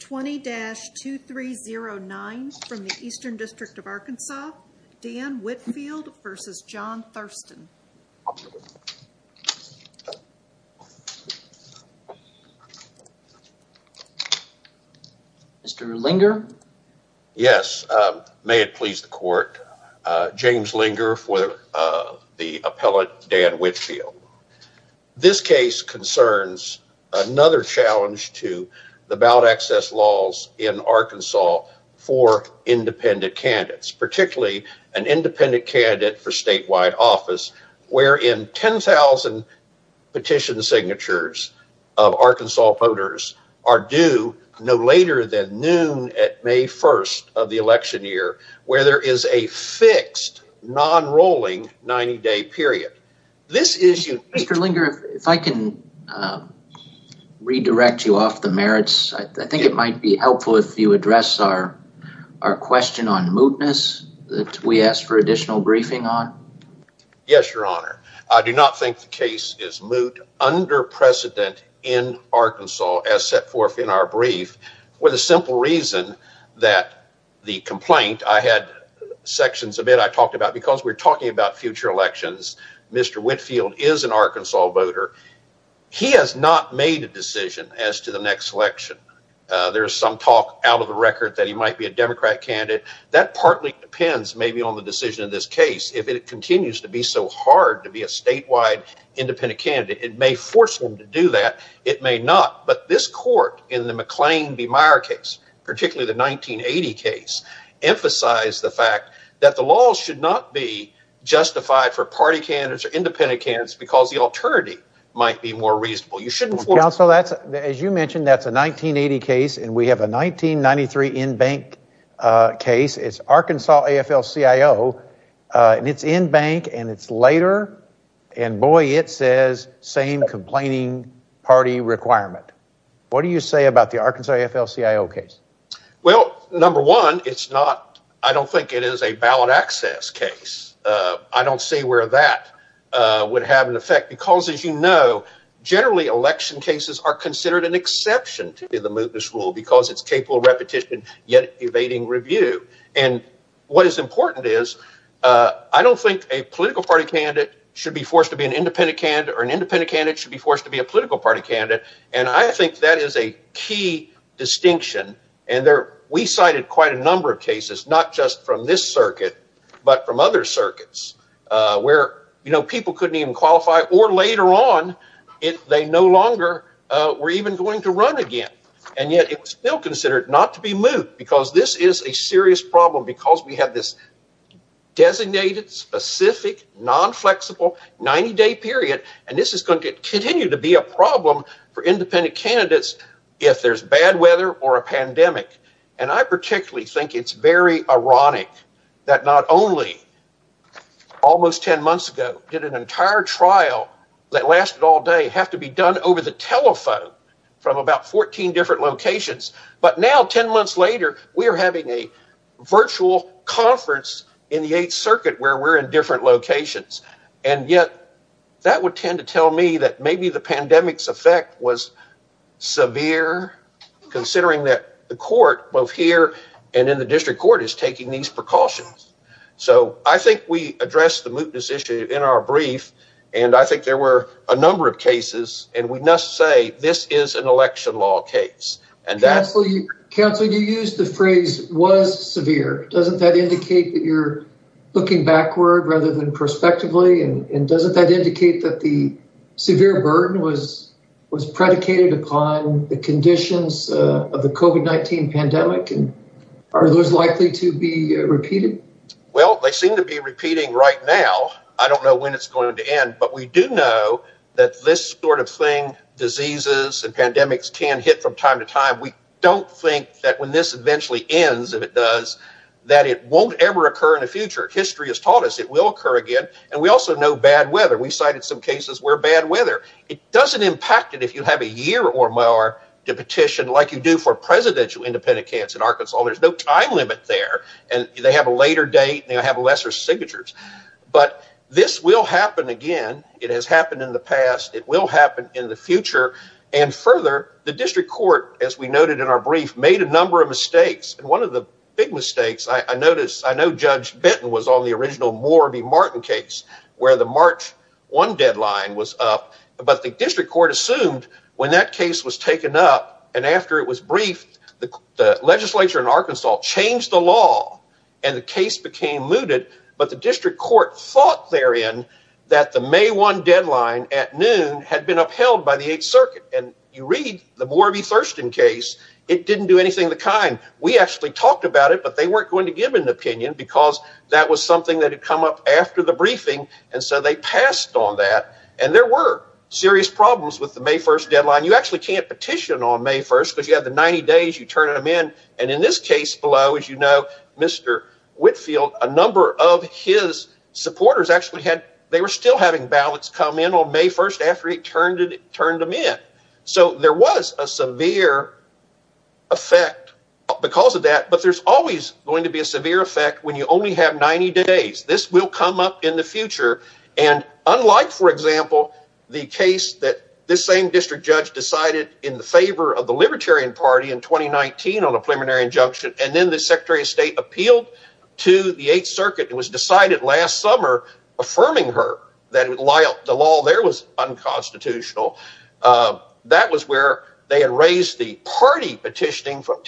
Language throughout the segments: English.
20-2309 from the Eastern District of Arkansas. Dan Whitfield versus John Thurston. Mr. Linger. Yes, may it please the court. James Linger for the appellate Dan Whitfield. This case concerns another challenge to the ballot access laws in Arkansas for independent candidates, particularly an independent candidate for statewide office where in 10,000 petition signatures of Arkansas voters are due no later than noon at May 1st of the election year where there is a fixed non-rolling 90-day period. Mr. Linger, if I can redirect you off the merits, I think it might be helpful if you address our question on mootness that we asked for additional briefing on. Yes, your honor. I do not think the case is moot under precedent in Arkansas as set that the complaint I had sections of it I talked about because we're talking about future elections. Mr. Whitfield is an Arkansas voter. He has not made a decision as to the next election. There's some talk out of the record that he might be a Democrat candidate. That partly depends maybe on the decision of this case. If it continues to be so hard to be a statewide independent candidate, it may force them to do that. It may not. But this court in the McClain v. Meyer case, particularly the 1980 case, emphasized the fact that the law should not be justified for party candidates or independent candidates because the alternative might be more reasonable. You should inform counsel. As you mentioned, that's a 1980 case and we have a 1993 in-bank case. It's Arkansas AFL-CIO and it's in-bank and it's later and, boy, it says same complaining party requirement. What do you say about the Arkansas AFL-CIO case? Well, number one, it's not I don't think it is a ballot access case. I don't see where that would have an effect because, as you know, generally election cases are considered an exception to the mootness rule because it's repetition yet evading review. What is important is I don't think a political party candidate should be forced to be an independent candidate or an independent candidate should be forced to be a political party candidate. I think that is a key distinction. We cited quite a number of cases, not just from this circuit, but from other circuits where people couldn't even qualify or later on they no longer were even going to run again. And yet it's still considered not to be moot because this is a serious problem because we have this designated, specific, non-flexible 90-day period and this is going to continue to be a problem for independent candidates if there's bad weather or a pandemic. And I particularly think it's very ironic that not only almost 10 months ago did an entire trial that lasted all day have to be done over the telephone from about 14 different locations, but now 10 months later we are having a virtual conference in the 8th Circuit where we're in different locations. And yet that would tend to tell me that maybe the pandemic's effect was severe considering that the court both here and in district court is taking these precautions. So I think we addressed the mootness issue in our brief and I think there were a number of cases and we must say this is an election law case. Counsel, you used the phrase was severe. Doesn't that indicate that you're looking backward rather than prospectively and doesn't that indicate that the severe burden was predicated upon the conditions of the COVID-19 pandemic and are those likely to be repeated? Well, they seem to be repeating right now. I don't know when it's going to end, but we do know that this sort of thing, diseases and pandemics, can hit from time to time. We don't think that when this eventually ends, if it does, that it won't ever occur in the future. History has taught us it will occur again and we also know bad weather. We've cited some cases where bad weather, it doesn't impact it have a year or more to petition like you do for presidential independent candidates in Arkansas. There's no time limit there and they have a later date and lesser signatures, but this will happen again. It has happened in the past. It will happen in the future and further, the district court, as we noted in our brief, made a number of mistakes and one of the big mistakes I noticed, I know Judge Benton was on the original Moore v. Martin case where the March 1 deadline was up, but the district court assumed when that case was taken up and after it was briefed, the legislature in Arkansas changed the law and the case became looted, but the district court thought therein that the May 1 deadline at noon had been upheld by the 8th Circuit and you read the Moore v. Thurston case, it didn't do anything of the kind. We actually talked about it, but they weren't going to give an opinion because that was something that had come up after the briefing and they passed on that and there were serious problems with the May 1 deadline. You actually can't petition on May 1 because you have the 90 days, you turn them in, and in this case below, as you know, Mr. Whitfield, a number of his supporters actually had, they were still having ballots come in on May 1 after he turned them in, so there was a severe effect because of that, but there's always going to be a severe effect when you only have 90 days. This will come up in the future and unlike, for example, the case that this same district judge decided in the favor of the Libertarian Party in 2019 on a preliminary injunction and then the Secretary of State appealed to the 8th Circuit and was decided last summer affirming her that the law there was unconstitutional, that was where they had raised the party petitioning from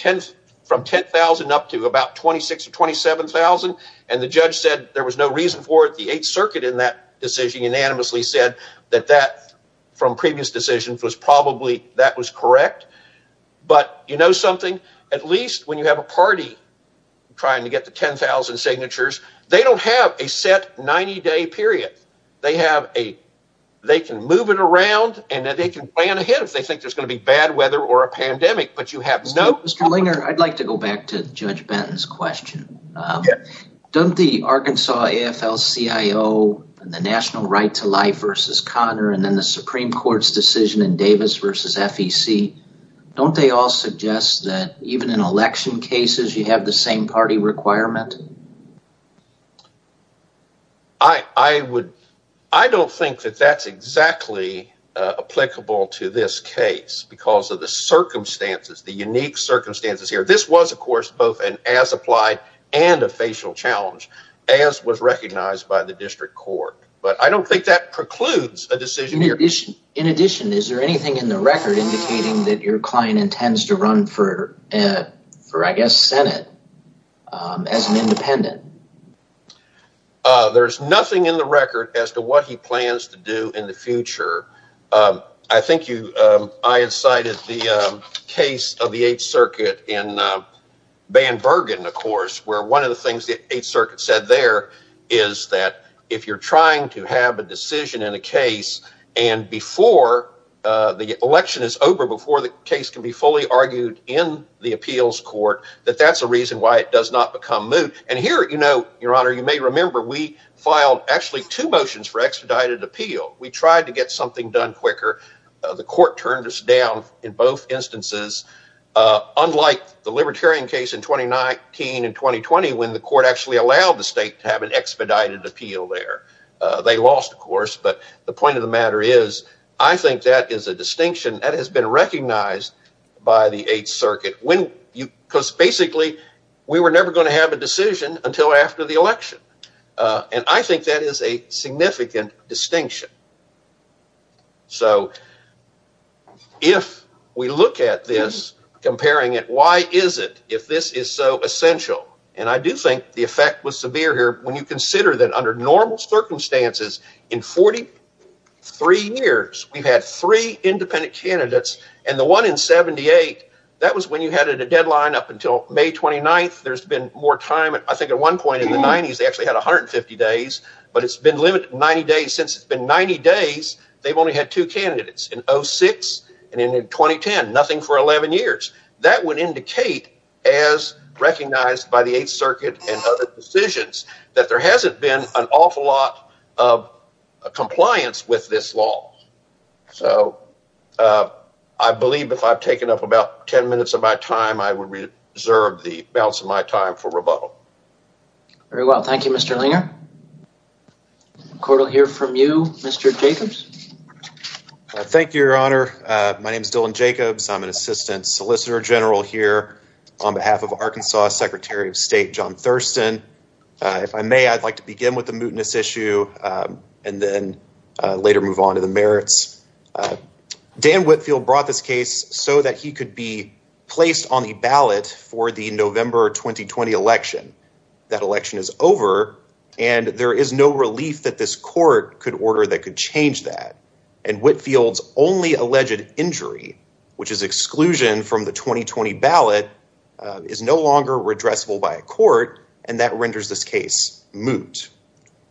10,000 up to about 26 or 27,000 and the judge said there was no reason for it. The 8th Circuit in that decision unanimously said that that from previous decisions was probably, that was correct, but you know something? At least when you have a party trying to get to 10,000 signatures, they don't have a set 90-day period. They have a, they can move it around and then they can plan ahead if they think there's going to be bad weather or a pandemic, but you have no- I'd like to go back to Judge Benton's question. Don't the Arkansas AFL-CIO and the National Right to Life versus Connor and then the Supreme Court's decision in Davis versus FEC, don't they all suggest that even in election cases you have the same party requirement? I don't think that that's exactly applicable to this case because of the circumstances, the unique circumstances here. This was of course both an as-applied and a facial challenge as was recognized by the district court, but I don't think that precludes a decision. In addition, is there anything in the record indicating that your client intends to run for I guess Senate as an independent? There's nothing in the record as to what he plans to do in the future. I think you, I had cited the case of the Eighth Circuit in Van Bergen, of course, where one of the things the Eighth Circuit said there is that if you're trying to have a decision in a case and before the election is over, before the case can be fully argued in the appeals court, that that's a reason why it does not become moot. And here, you know, your honor, you may remember we filed actually two the court turned us down in both instances, unlike the Libertarian case in 2019 and 2020 when the court actually allowed the state to have an expedited appeal there. They lost, of course, but the point of the matter is I think that is a distinction that has been recognized by the Eighth Circuit when you, because basically we were never going to have a decision until after the election. And I think that is a significant distinction. So, if we look at this, comparing it, why is it, if this is so essential, and I do think the effect was severe here, when you consider that under normal circumstances in 43 years, we've had three independent candidates and the one in 78, that was when you had a deadline up until May 29th, there's been more time, I think at one point in the 90s, they actually had 150 days, but it's been limited, 90 days, since it's been 90 days, they've only had two candidates in 06 and in 2010, nothing for 11 years. That would indicate, as recognized by the Eighth Circuit and other decisions, that there hasn't been an awful lot of compliance with this law. So, I believe if I've taken up about 10 minutes of my time, I would deserve the balance of my time for rebuttal. Very well. Thank you, Mr. Liener. We'll hear from you, Mr. Jacobs. Thank you, Your Honor. My name is Dylan Jacobs. I'm an Assistant Solicitor General here on behalf of Arkansas Secretary of State, John Thurston. If I may, I'd like to begin with the mootness issue and then later move on to the merits. Dan Whitfield brought this case so that he could be placed on the ballot for the November 2020 election. That election is over, and there is no relief that this court could order that could change that. And Whitfield's only alleged injury, which is exclusion from the 2020 ballot, is no longer redressable by a court, and that renders this case moot.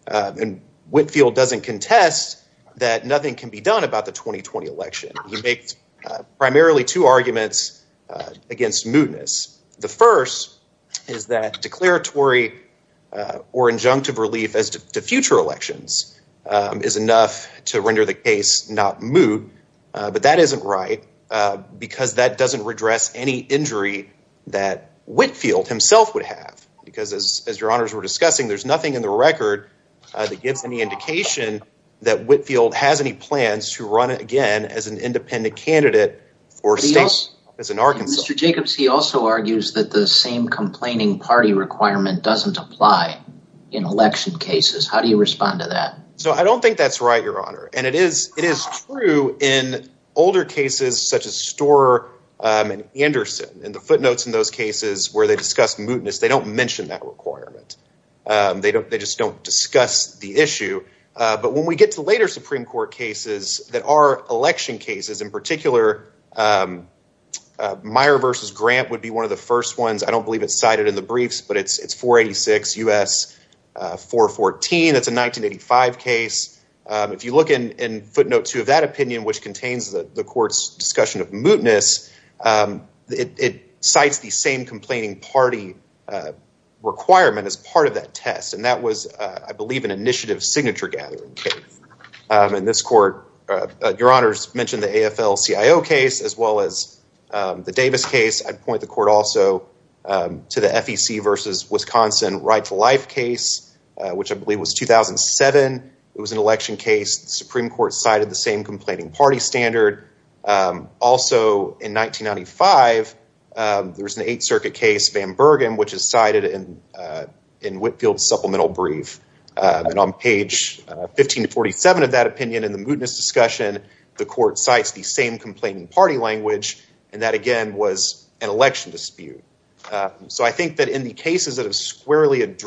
And Whitfield doesn't contest that nothing can be done about the 2020 election. He makes primarily two arguments against mootness. The first is that declaratory or injunctive relief as to future elections is enough to render the case not moot, but that isn't right because that doesn't redress any injury that Whitfield himself would have. Because as your honors were discussing, there's nothing in the record that gives any indication that Whitfield has any plans to run again as an independent candidate for states as in Arkansas. Mr. Jacobs, he also argues that the same complaining party requirement doesn't apply in election cases. How do you respond to that? So I don't think that's right, your honor. And it is true in older cases such as Storer and Anderson. In the footnotes in those cases where they discuss mootness, they don't mention that requirement. They just don't discuss the issue. But when we get to later Supreme Court cases that are election cases, in particular, Myer v. Grant would be one of the first ones. I don't believe it's cited in the briefs, but it's 486 U.S. 414. That's a 1985 case. If you look in footnote two of that opinion, which contains the court's discussion of mootness, it cites the same complaining party requirement as part of that test. And that was, I believe, an initiative signature gathering case. In this court, your honors mentioned the AFL-CIO case as well as the Davis case. I'd point the court also to the FEC v. Wisconsin right-to-life case, which I believe was 2007. It was an election case. The Supreme Court cited the same complaining party standard. Also in 1995, there was an Eighth Circuit case, Van Bergen, which is cited in Whitfield's supplemental brief. And on page 1547 of that opinion in the mootness discussion, the court cites the same complaining party language. And that again was an election dispute. So I think that in the cases that have squarely this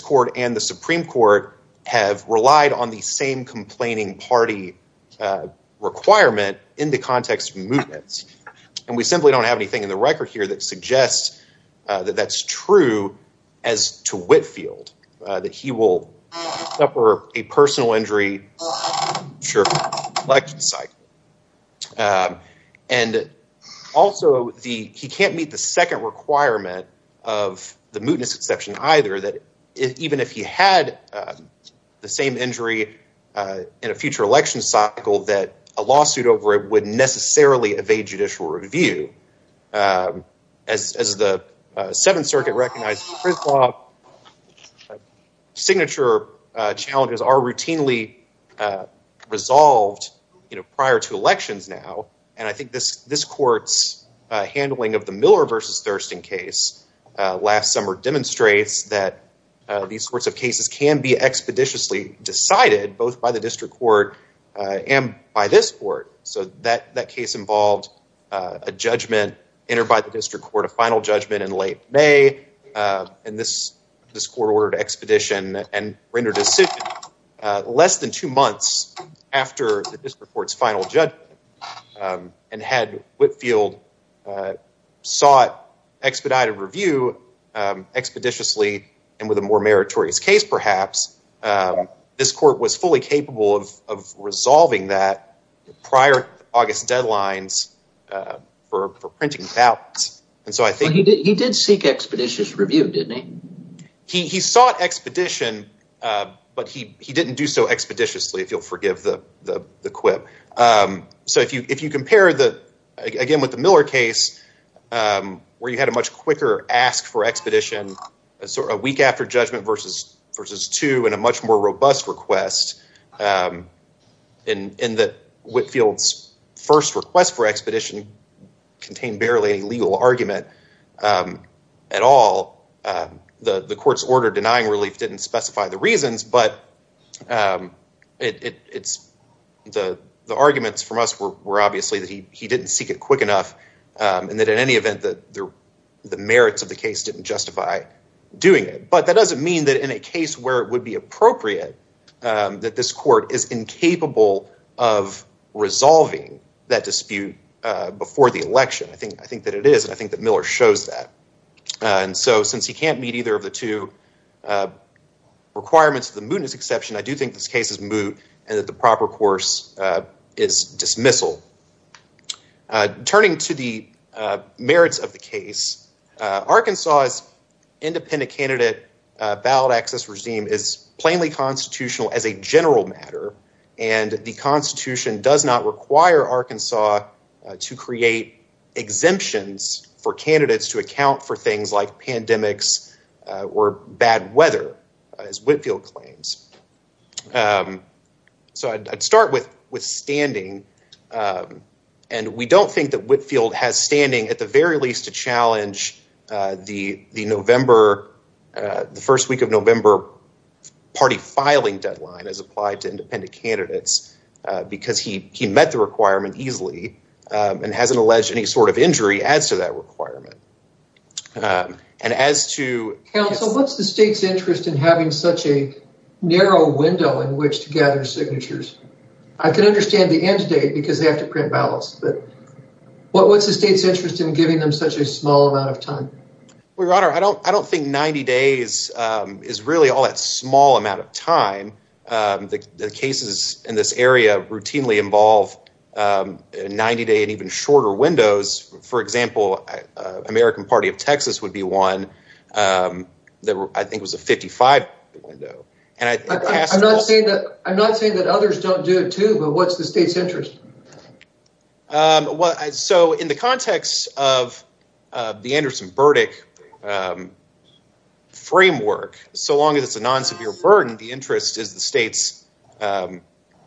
court and the Supreme Court have relied on the same complaining party requirement in the context of mootness. And we simply don't have anything in the record here that suggests that that's true as to Whitfield, that he will suffer a personal injury. Sure. And also, he can't meet the second requirement of the mootness exception either, that even if he had the same injury in a future election cycle, that a lawsuit over it would necessarily evade judicial review. As the Seventh Circuit recognized, signature challenges are resolved prior to elections now. And I think this court's handling of the Miller versus Thurston case last summer demonstrates that these sorts of cases can be expeditiously decided both by the district court and by this court. So that case involved a judgment entered by the district court, a final judgment in late May. And this court ordered expedition and rendered a suit less than two months after the district court's final judgment. And had Whitfield sought expedited review expeditiously and with a more meritorious case perhaps, this court was fully capable of resolving that prior to August deadlines for printing ballots. And so I think- He did seek expeditious review, didn't he? He sought expedition, but he didn't do so expeditiously, if you'll forgive the quip. So if you compare, again, with the Miller case, where you had a much quicker ask for expedition, a week after judgment versus two, and a much more robust request, in that Whitfield's first request for expedition contained barely any legal argument at all. The court's order denying relief didn't specify the reasons, but the arguments from us were obviously that he didn't seek it quick enough and that in any event that the merits of the case didn't justify doing it. But that doesn't mean that in a case where it would be appropriate, that this court is incapable of resolving that dispute before the election. I think that it is, and I think that Miller shows that. And so since he can't meet either of the two requirements of the mootness exception, I do think this case is moot and that the proper course is dismissal. Turning to the merits of the case, Arkansas's independent candidate ballot access regime is plainly constitutional as a general matter, and the Constitution does not require Arkansas to create exemptions for candidates to account for things like pandemics or bad weather, as Whitfield claims. So I'd start with standing, and we don't think that Whitfield has standing, at the very least, to challenge the first week of November party filing deadline as he met the requirement easily and hasn't alleged any sort of injury as to that requirement. Counsel, what's the state's interest in having such a narrow window in which to gather signatures? I can understand the end date because they have to print ballots, but what's the state's interest in giving them such a small amount of time? Well, your honor, I don't think 90 days is really all time. The cases in this area routinely involve 90-day and even shorter windows. For example, American Party of Texas would be one that I think was a 55-day window. I'm not saying that others don't do it too, but what's the state's interest? Well, so in the context of the Anderson-Burdick framework, so long as it's a non-severe burden, the interest is the state's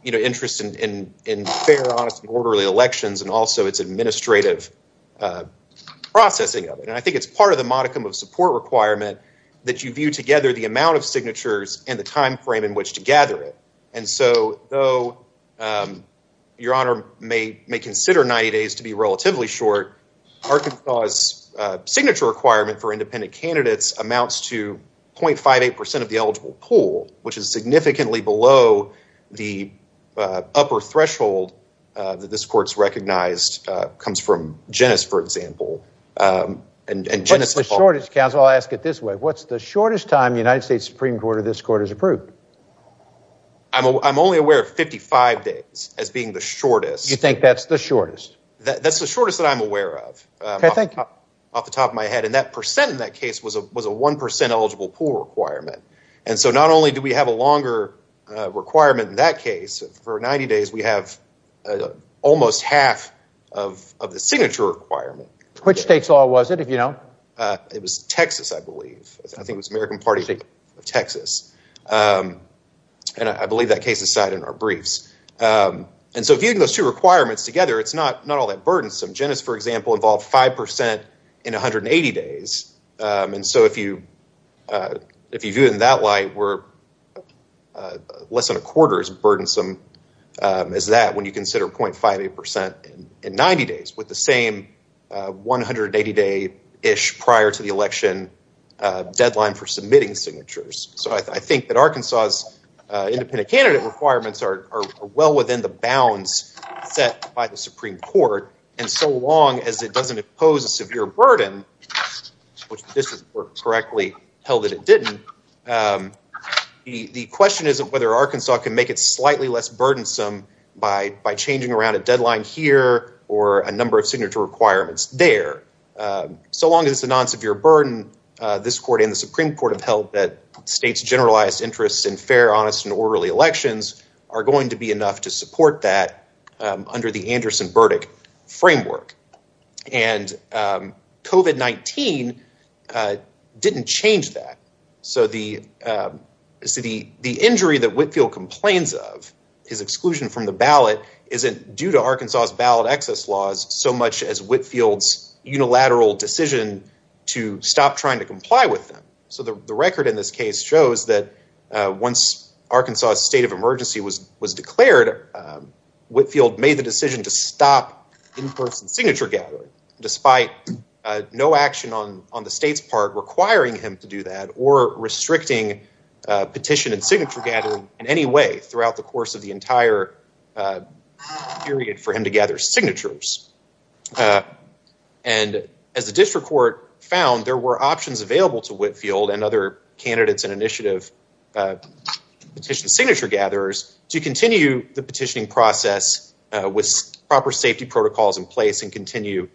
interest in fair, honest, and orderly elections and also its administrative processing of it. And I think it's part of the modicum of support requirement that you view together the amount of signatures and the time frame in which to gather it. And so though your honor may consider 90 days to be relatively short, Arkansas's signature requirement for independent candidates amounts to 0.58 percent of the eligible pool, which is significantly below the upper threshold that this court's recognized, comes from Genes, for example. What's the shortest, counsel? I'll ask it this way. What's the shortest time the United States Supreme Court or this court has approved? I'm only aware of 55 days as being the shortest. You think that's the shortest? That's the shortest that I'm aware of off the top of my head. And that percent in that case was a one percent eligible pool requirement. And so not only do we have a longer requirement in that case, for 90 days, we have almost half of the signature requirement. Which state's law was it, if you know? It was Texas, I believe. I think it was American Party of Texas. And I believe that case is cited in our briefs. And so if you think those two requirements together, it's not all that burdensome. Genes, for example, involved five percent in 180 days. And so if you view it in that light, we're less than a quarter as burdensome as that when you consider 0.58 percent in 90 days with the same 180 day-ish prior to the election deadline for submitting signatures. So I think that Arkansas's independent candidate requirements are well within the bounds set by the Supreme Court. And so long as it doesn't impose a severe burden, which this is correctly held that it didn't, the question isn't whether Arkansas can make it slightly less burdensome by changing around a deadline here or a number of signature requirements there. So long as it's a non-severe burden, this court and the Supreme Court have held that state's generalized interests in fair, honest, and orderly elections are going to be enough to support that under the Anderson-Burdick framework. And COVID-19 didn't change that. So the injury that Whitfield complains of, his exclusion from the ballot, isn't due to Arkansas's ballot excess laws so much as Whitfield's unilateral decision to stop trying to comply with them. So the record in this case shows that once Arkansas's state of emergency was declared, Whitfield made the decision to stop in-person signature gathering despite no action on the state's part requiring him to do that or the course of the entire period for him to gather signatures. And as the district court found, there were options available to Whitfield and other candidates and initiative petition signature gatherers to continue the petitioning process with proper safety protocols in place and continue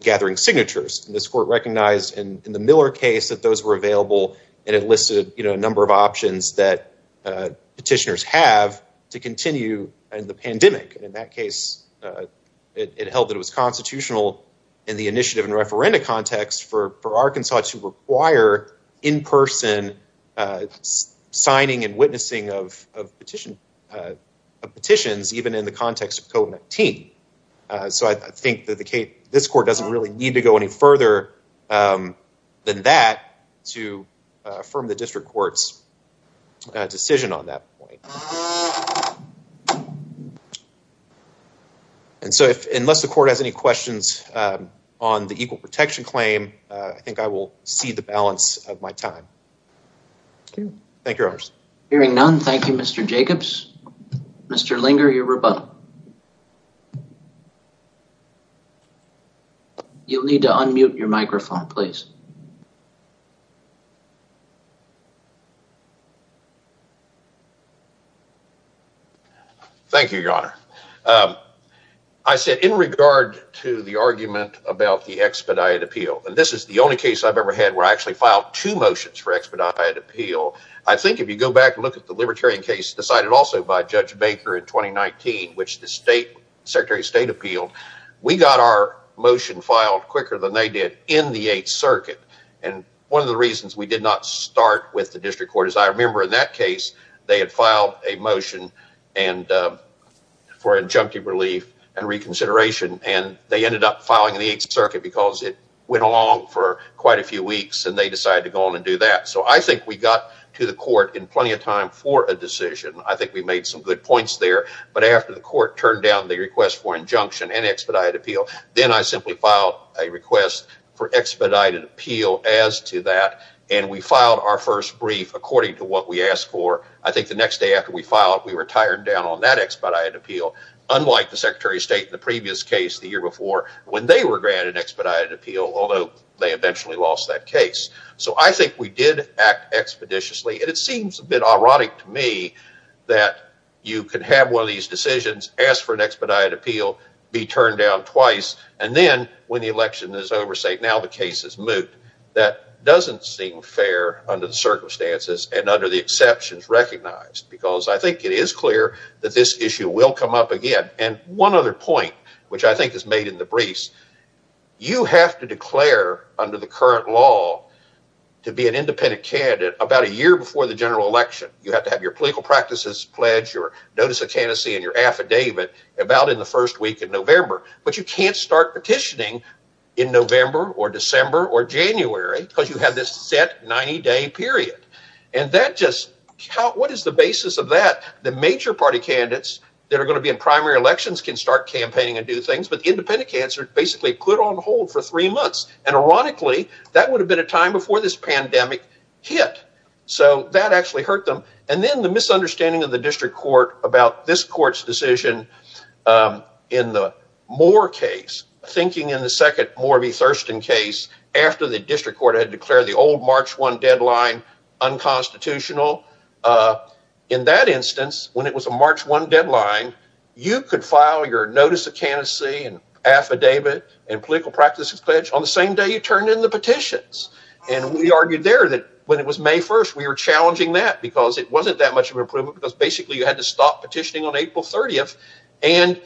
gathering signatures. And this court recognized in the Miller case that those were available and it listed a number of options that petitioners have to continue in the pandemic. And in that case, it held that it was constitutional in the initiative and referenda context for Arkansas to require in-person signing and witnessing of petitions even in the context of COVID-19. So I think that this court doesn't really need to go any further than that to affirm the district court's decision on that point. And so unless the court has any questions on the equal protection claim, I think I will see the balance of my time. Thank you, your honors. Hearing none, thank you, Mr. Jacobs. Mr. Linger, your rebuttal. You will need to unmute your microphone, please. Thank you, your honor. I said in regard to the argument about the expedited appeal, and this is the only case I have ever had where I filed two motions for expedited appeal. I think if you go back and look at the libertarian case decided also by Judge Baker in 2019, which the secretary of state appealed, we got our motion filed quicker than they did in the 8th circuit. And one of the reasons we did not start with the district court is I remember in that case they had filed a motion for injunctive relief and reconsideration, and they ended up filing in the 8th circuit because it went along for quite a few weeks and they decided to go on and do that. I think we got to the court in plenty of time for a decision. I think we made some good points there, but after the court turned down the request for injunction and expedited appeal, then I simply filed a request for expedited appeal as to that, and we filed our first brief according to what we asked for. I think the next day after we filed, we retired down on that expedited appeal, unlike the secretary of state in the previous case the year before when they were expeditiously. It seems a bit ironic to me that you can have one of these decisions, ask for an expedited appeal, be turned down twice, and then when the election is over say now the case is moot. That doesn't seem fair under the circumstances and under the exceptions recognized because I think it is clear that this issue will come up again, and one other point which I think is made in the briefs, you have to declare under the current law to be an independent candidate about a year before the general election. You have to have your political practices pledge, your notice of candidacy, and your affidavit about in the first week in November, but you can't start petitioning in November or December or January because you have this set 90-day period, and that just what is the basis of that? The major party candidates that are going to be in primary elections can campaign and do things, but the independent candidates are basically put on hold for three months, and ironically, that would have been a time before this pandemic hit, so that actually hurt them, and then the misunderstanding of the district court about this court's decision in the Moore case, thinking in the second Moore v. Thurston case after the district court had declared the old March 1 deadline unconstitutional. In that instance, when it was a March 1 deadline, you could file your notice of candidacy and affidavit and political practices pledge on the same day you turned in the petitions, and we argued there that when it was May 1st, we were challenging that because it wasn't that much of an improvement because basically you had to stop petitioning on April 30th, and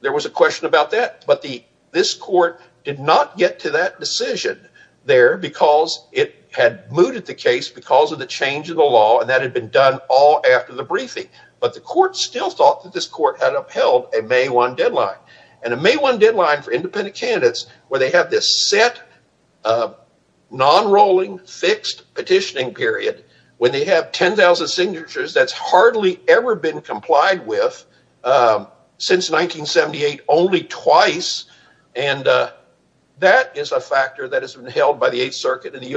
there was a question about that, but this court did not get to that decision there because it had mooted the case because of the change of the law, and that had been done all after the briefing, but the court still thought that this court had upheld a May 1 deadline, and a May 1 deadline for independent candidates where they have this set, nonrolling, fixed petitioning period when they have 10,000 signatures that's hardly ever been complied with since 1978, only twice, and that is a factor that has been held by the 8th Circuit and the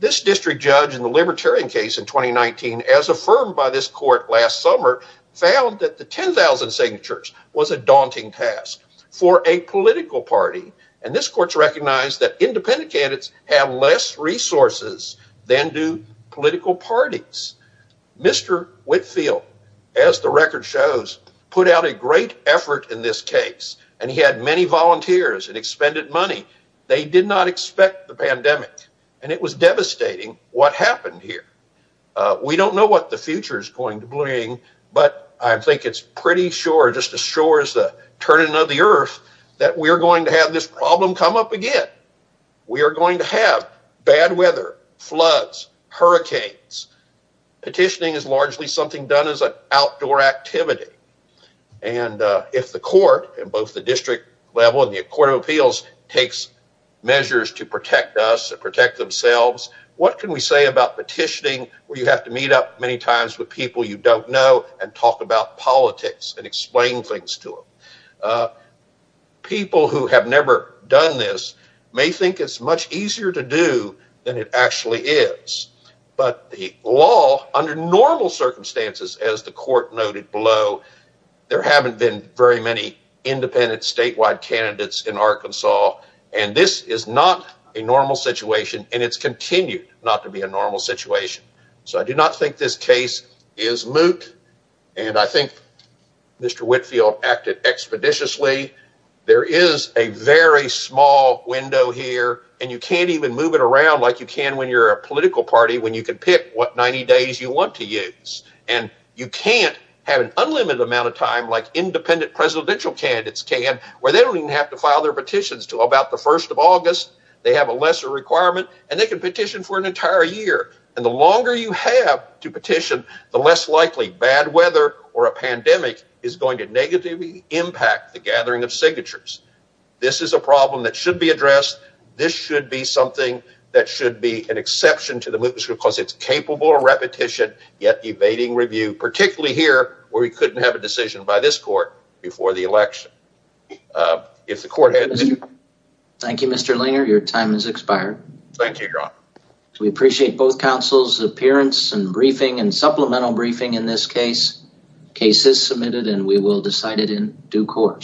district judge in the libertarian case in 2019 as affirmed by this court last summer found that the 10,000 signatures was a daunting task for a political party, and this court recognized that independent candidates have less resources than do political parties. Mr. Whitfield, as the record shows, put out a great effort in this case, and he had many volunteers and expended money. They did not expect the pandemic, and it was devastating what happened here. We don't know what the future is going to bring, but I think it's pretty sure, just as sure as the turning of the earth, that we are going to have this problem come up again. We are going to have bad weather, floods, hurricanes. Petitioning is largely something done as an outdoor activity, and if the court in both the district level and the court of appeals takes measures to protect us and protect themselves, what can we say about petitioning where you have to meet up many times with people you don't know and talk about politics and explain things to them? People who have never done this may think it's much easier to do than it actually is, but the law under normal circumstances, as the court noted below, there haven't been very many independent statewide candidates in Arkansas, and this is not a normal situation, and it's continued not to be a normal situation, so I do not think this case is moot, and I think Mr. Whitfield acted expeditiously. There is a very small window here, and you can't even move it around like you can when you're a political party when you can pick what 90 days you want to use, and you can't have an unlimited amount of time like independent presidential candidates can where they don't even have to file their petitions until about the first of August. They have a lesser requirement, and they can petition for an entire year, and the longer you have to petition, the less likely bad of signatures. This is a problem that should be addressed. This should be something that should be an exception to the mootness because it's capable of repetition, yet evading review, particularly here where we couldn't have a decision by this court before the election. Thank you, Mr. Langer. Your time has expired. Thank you, John. We appreciate both counsel's appearance and briefing and supplemental briefing in this case. The case is submitted, and we will decide it in due course.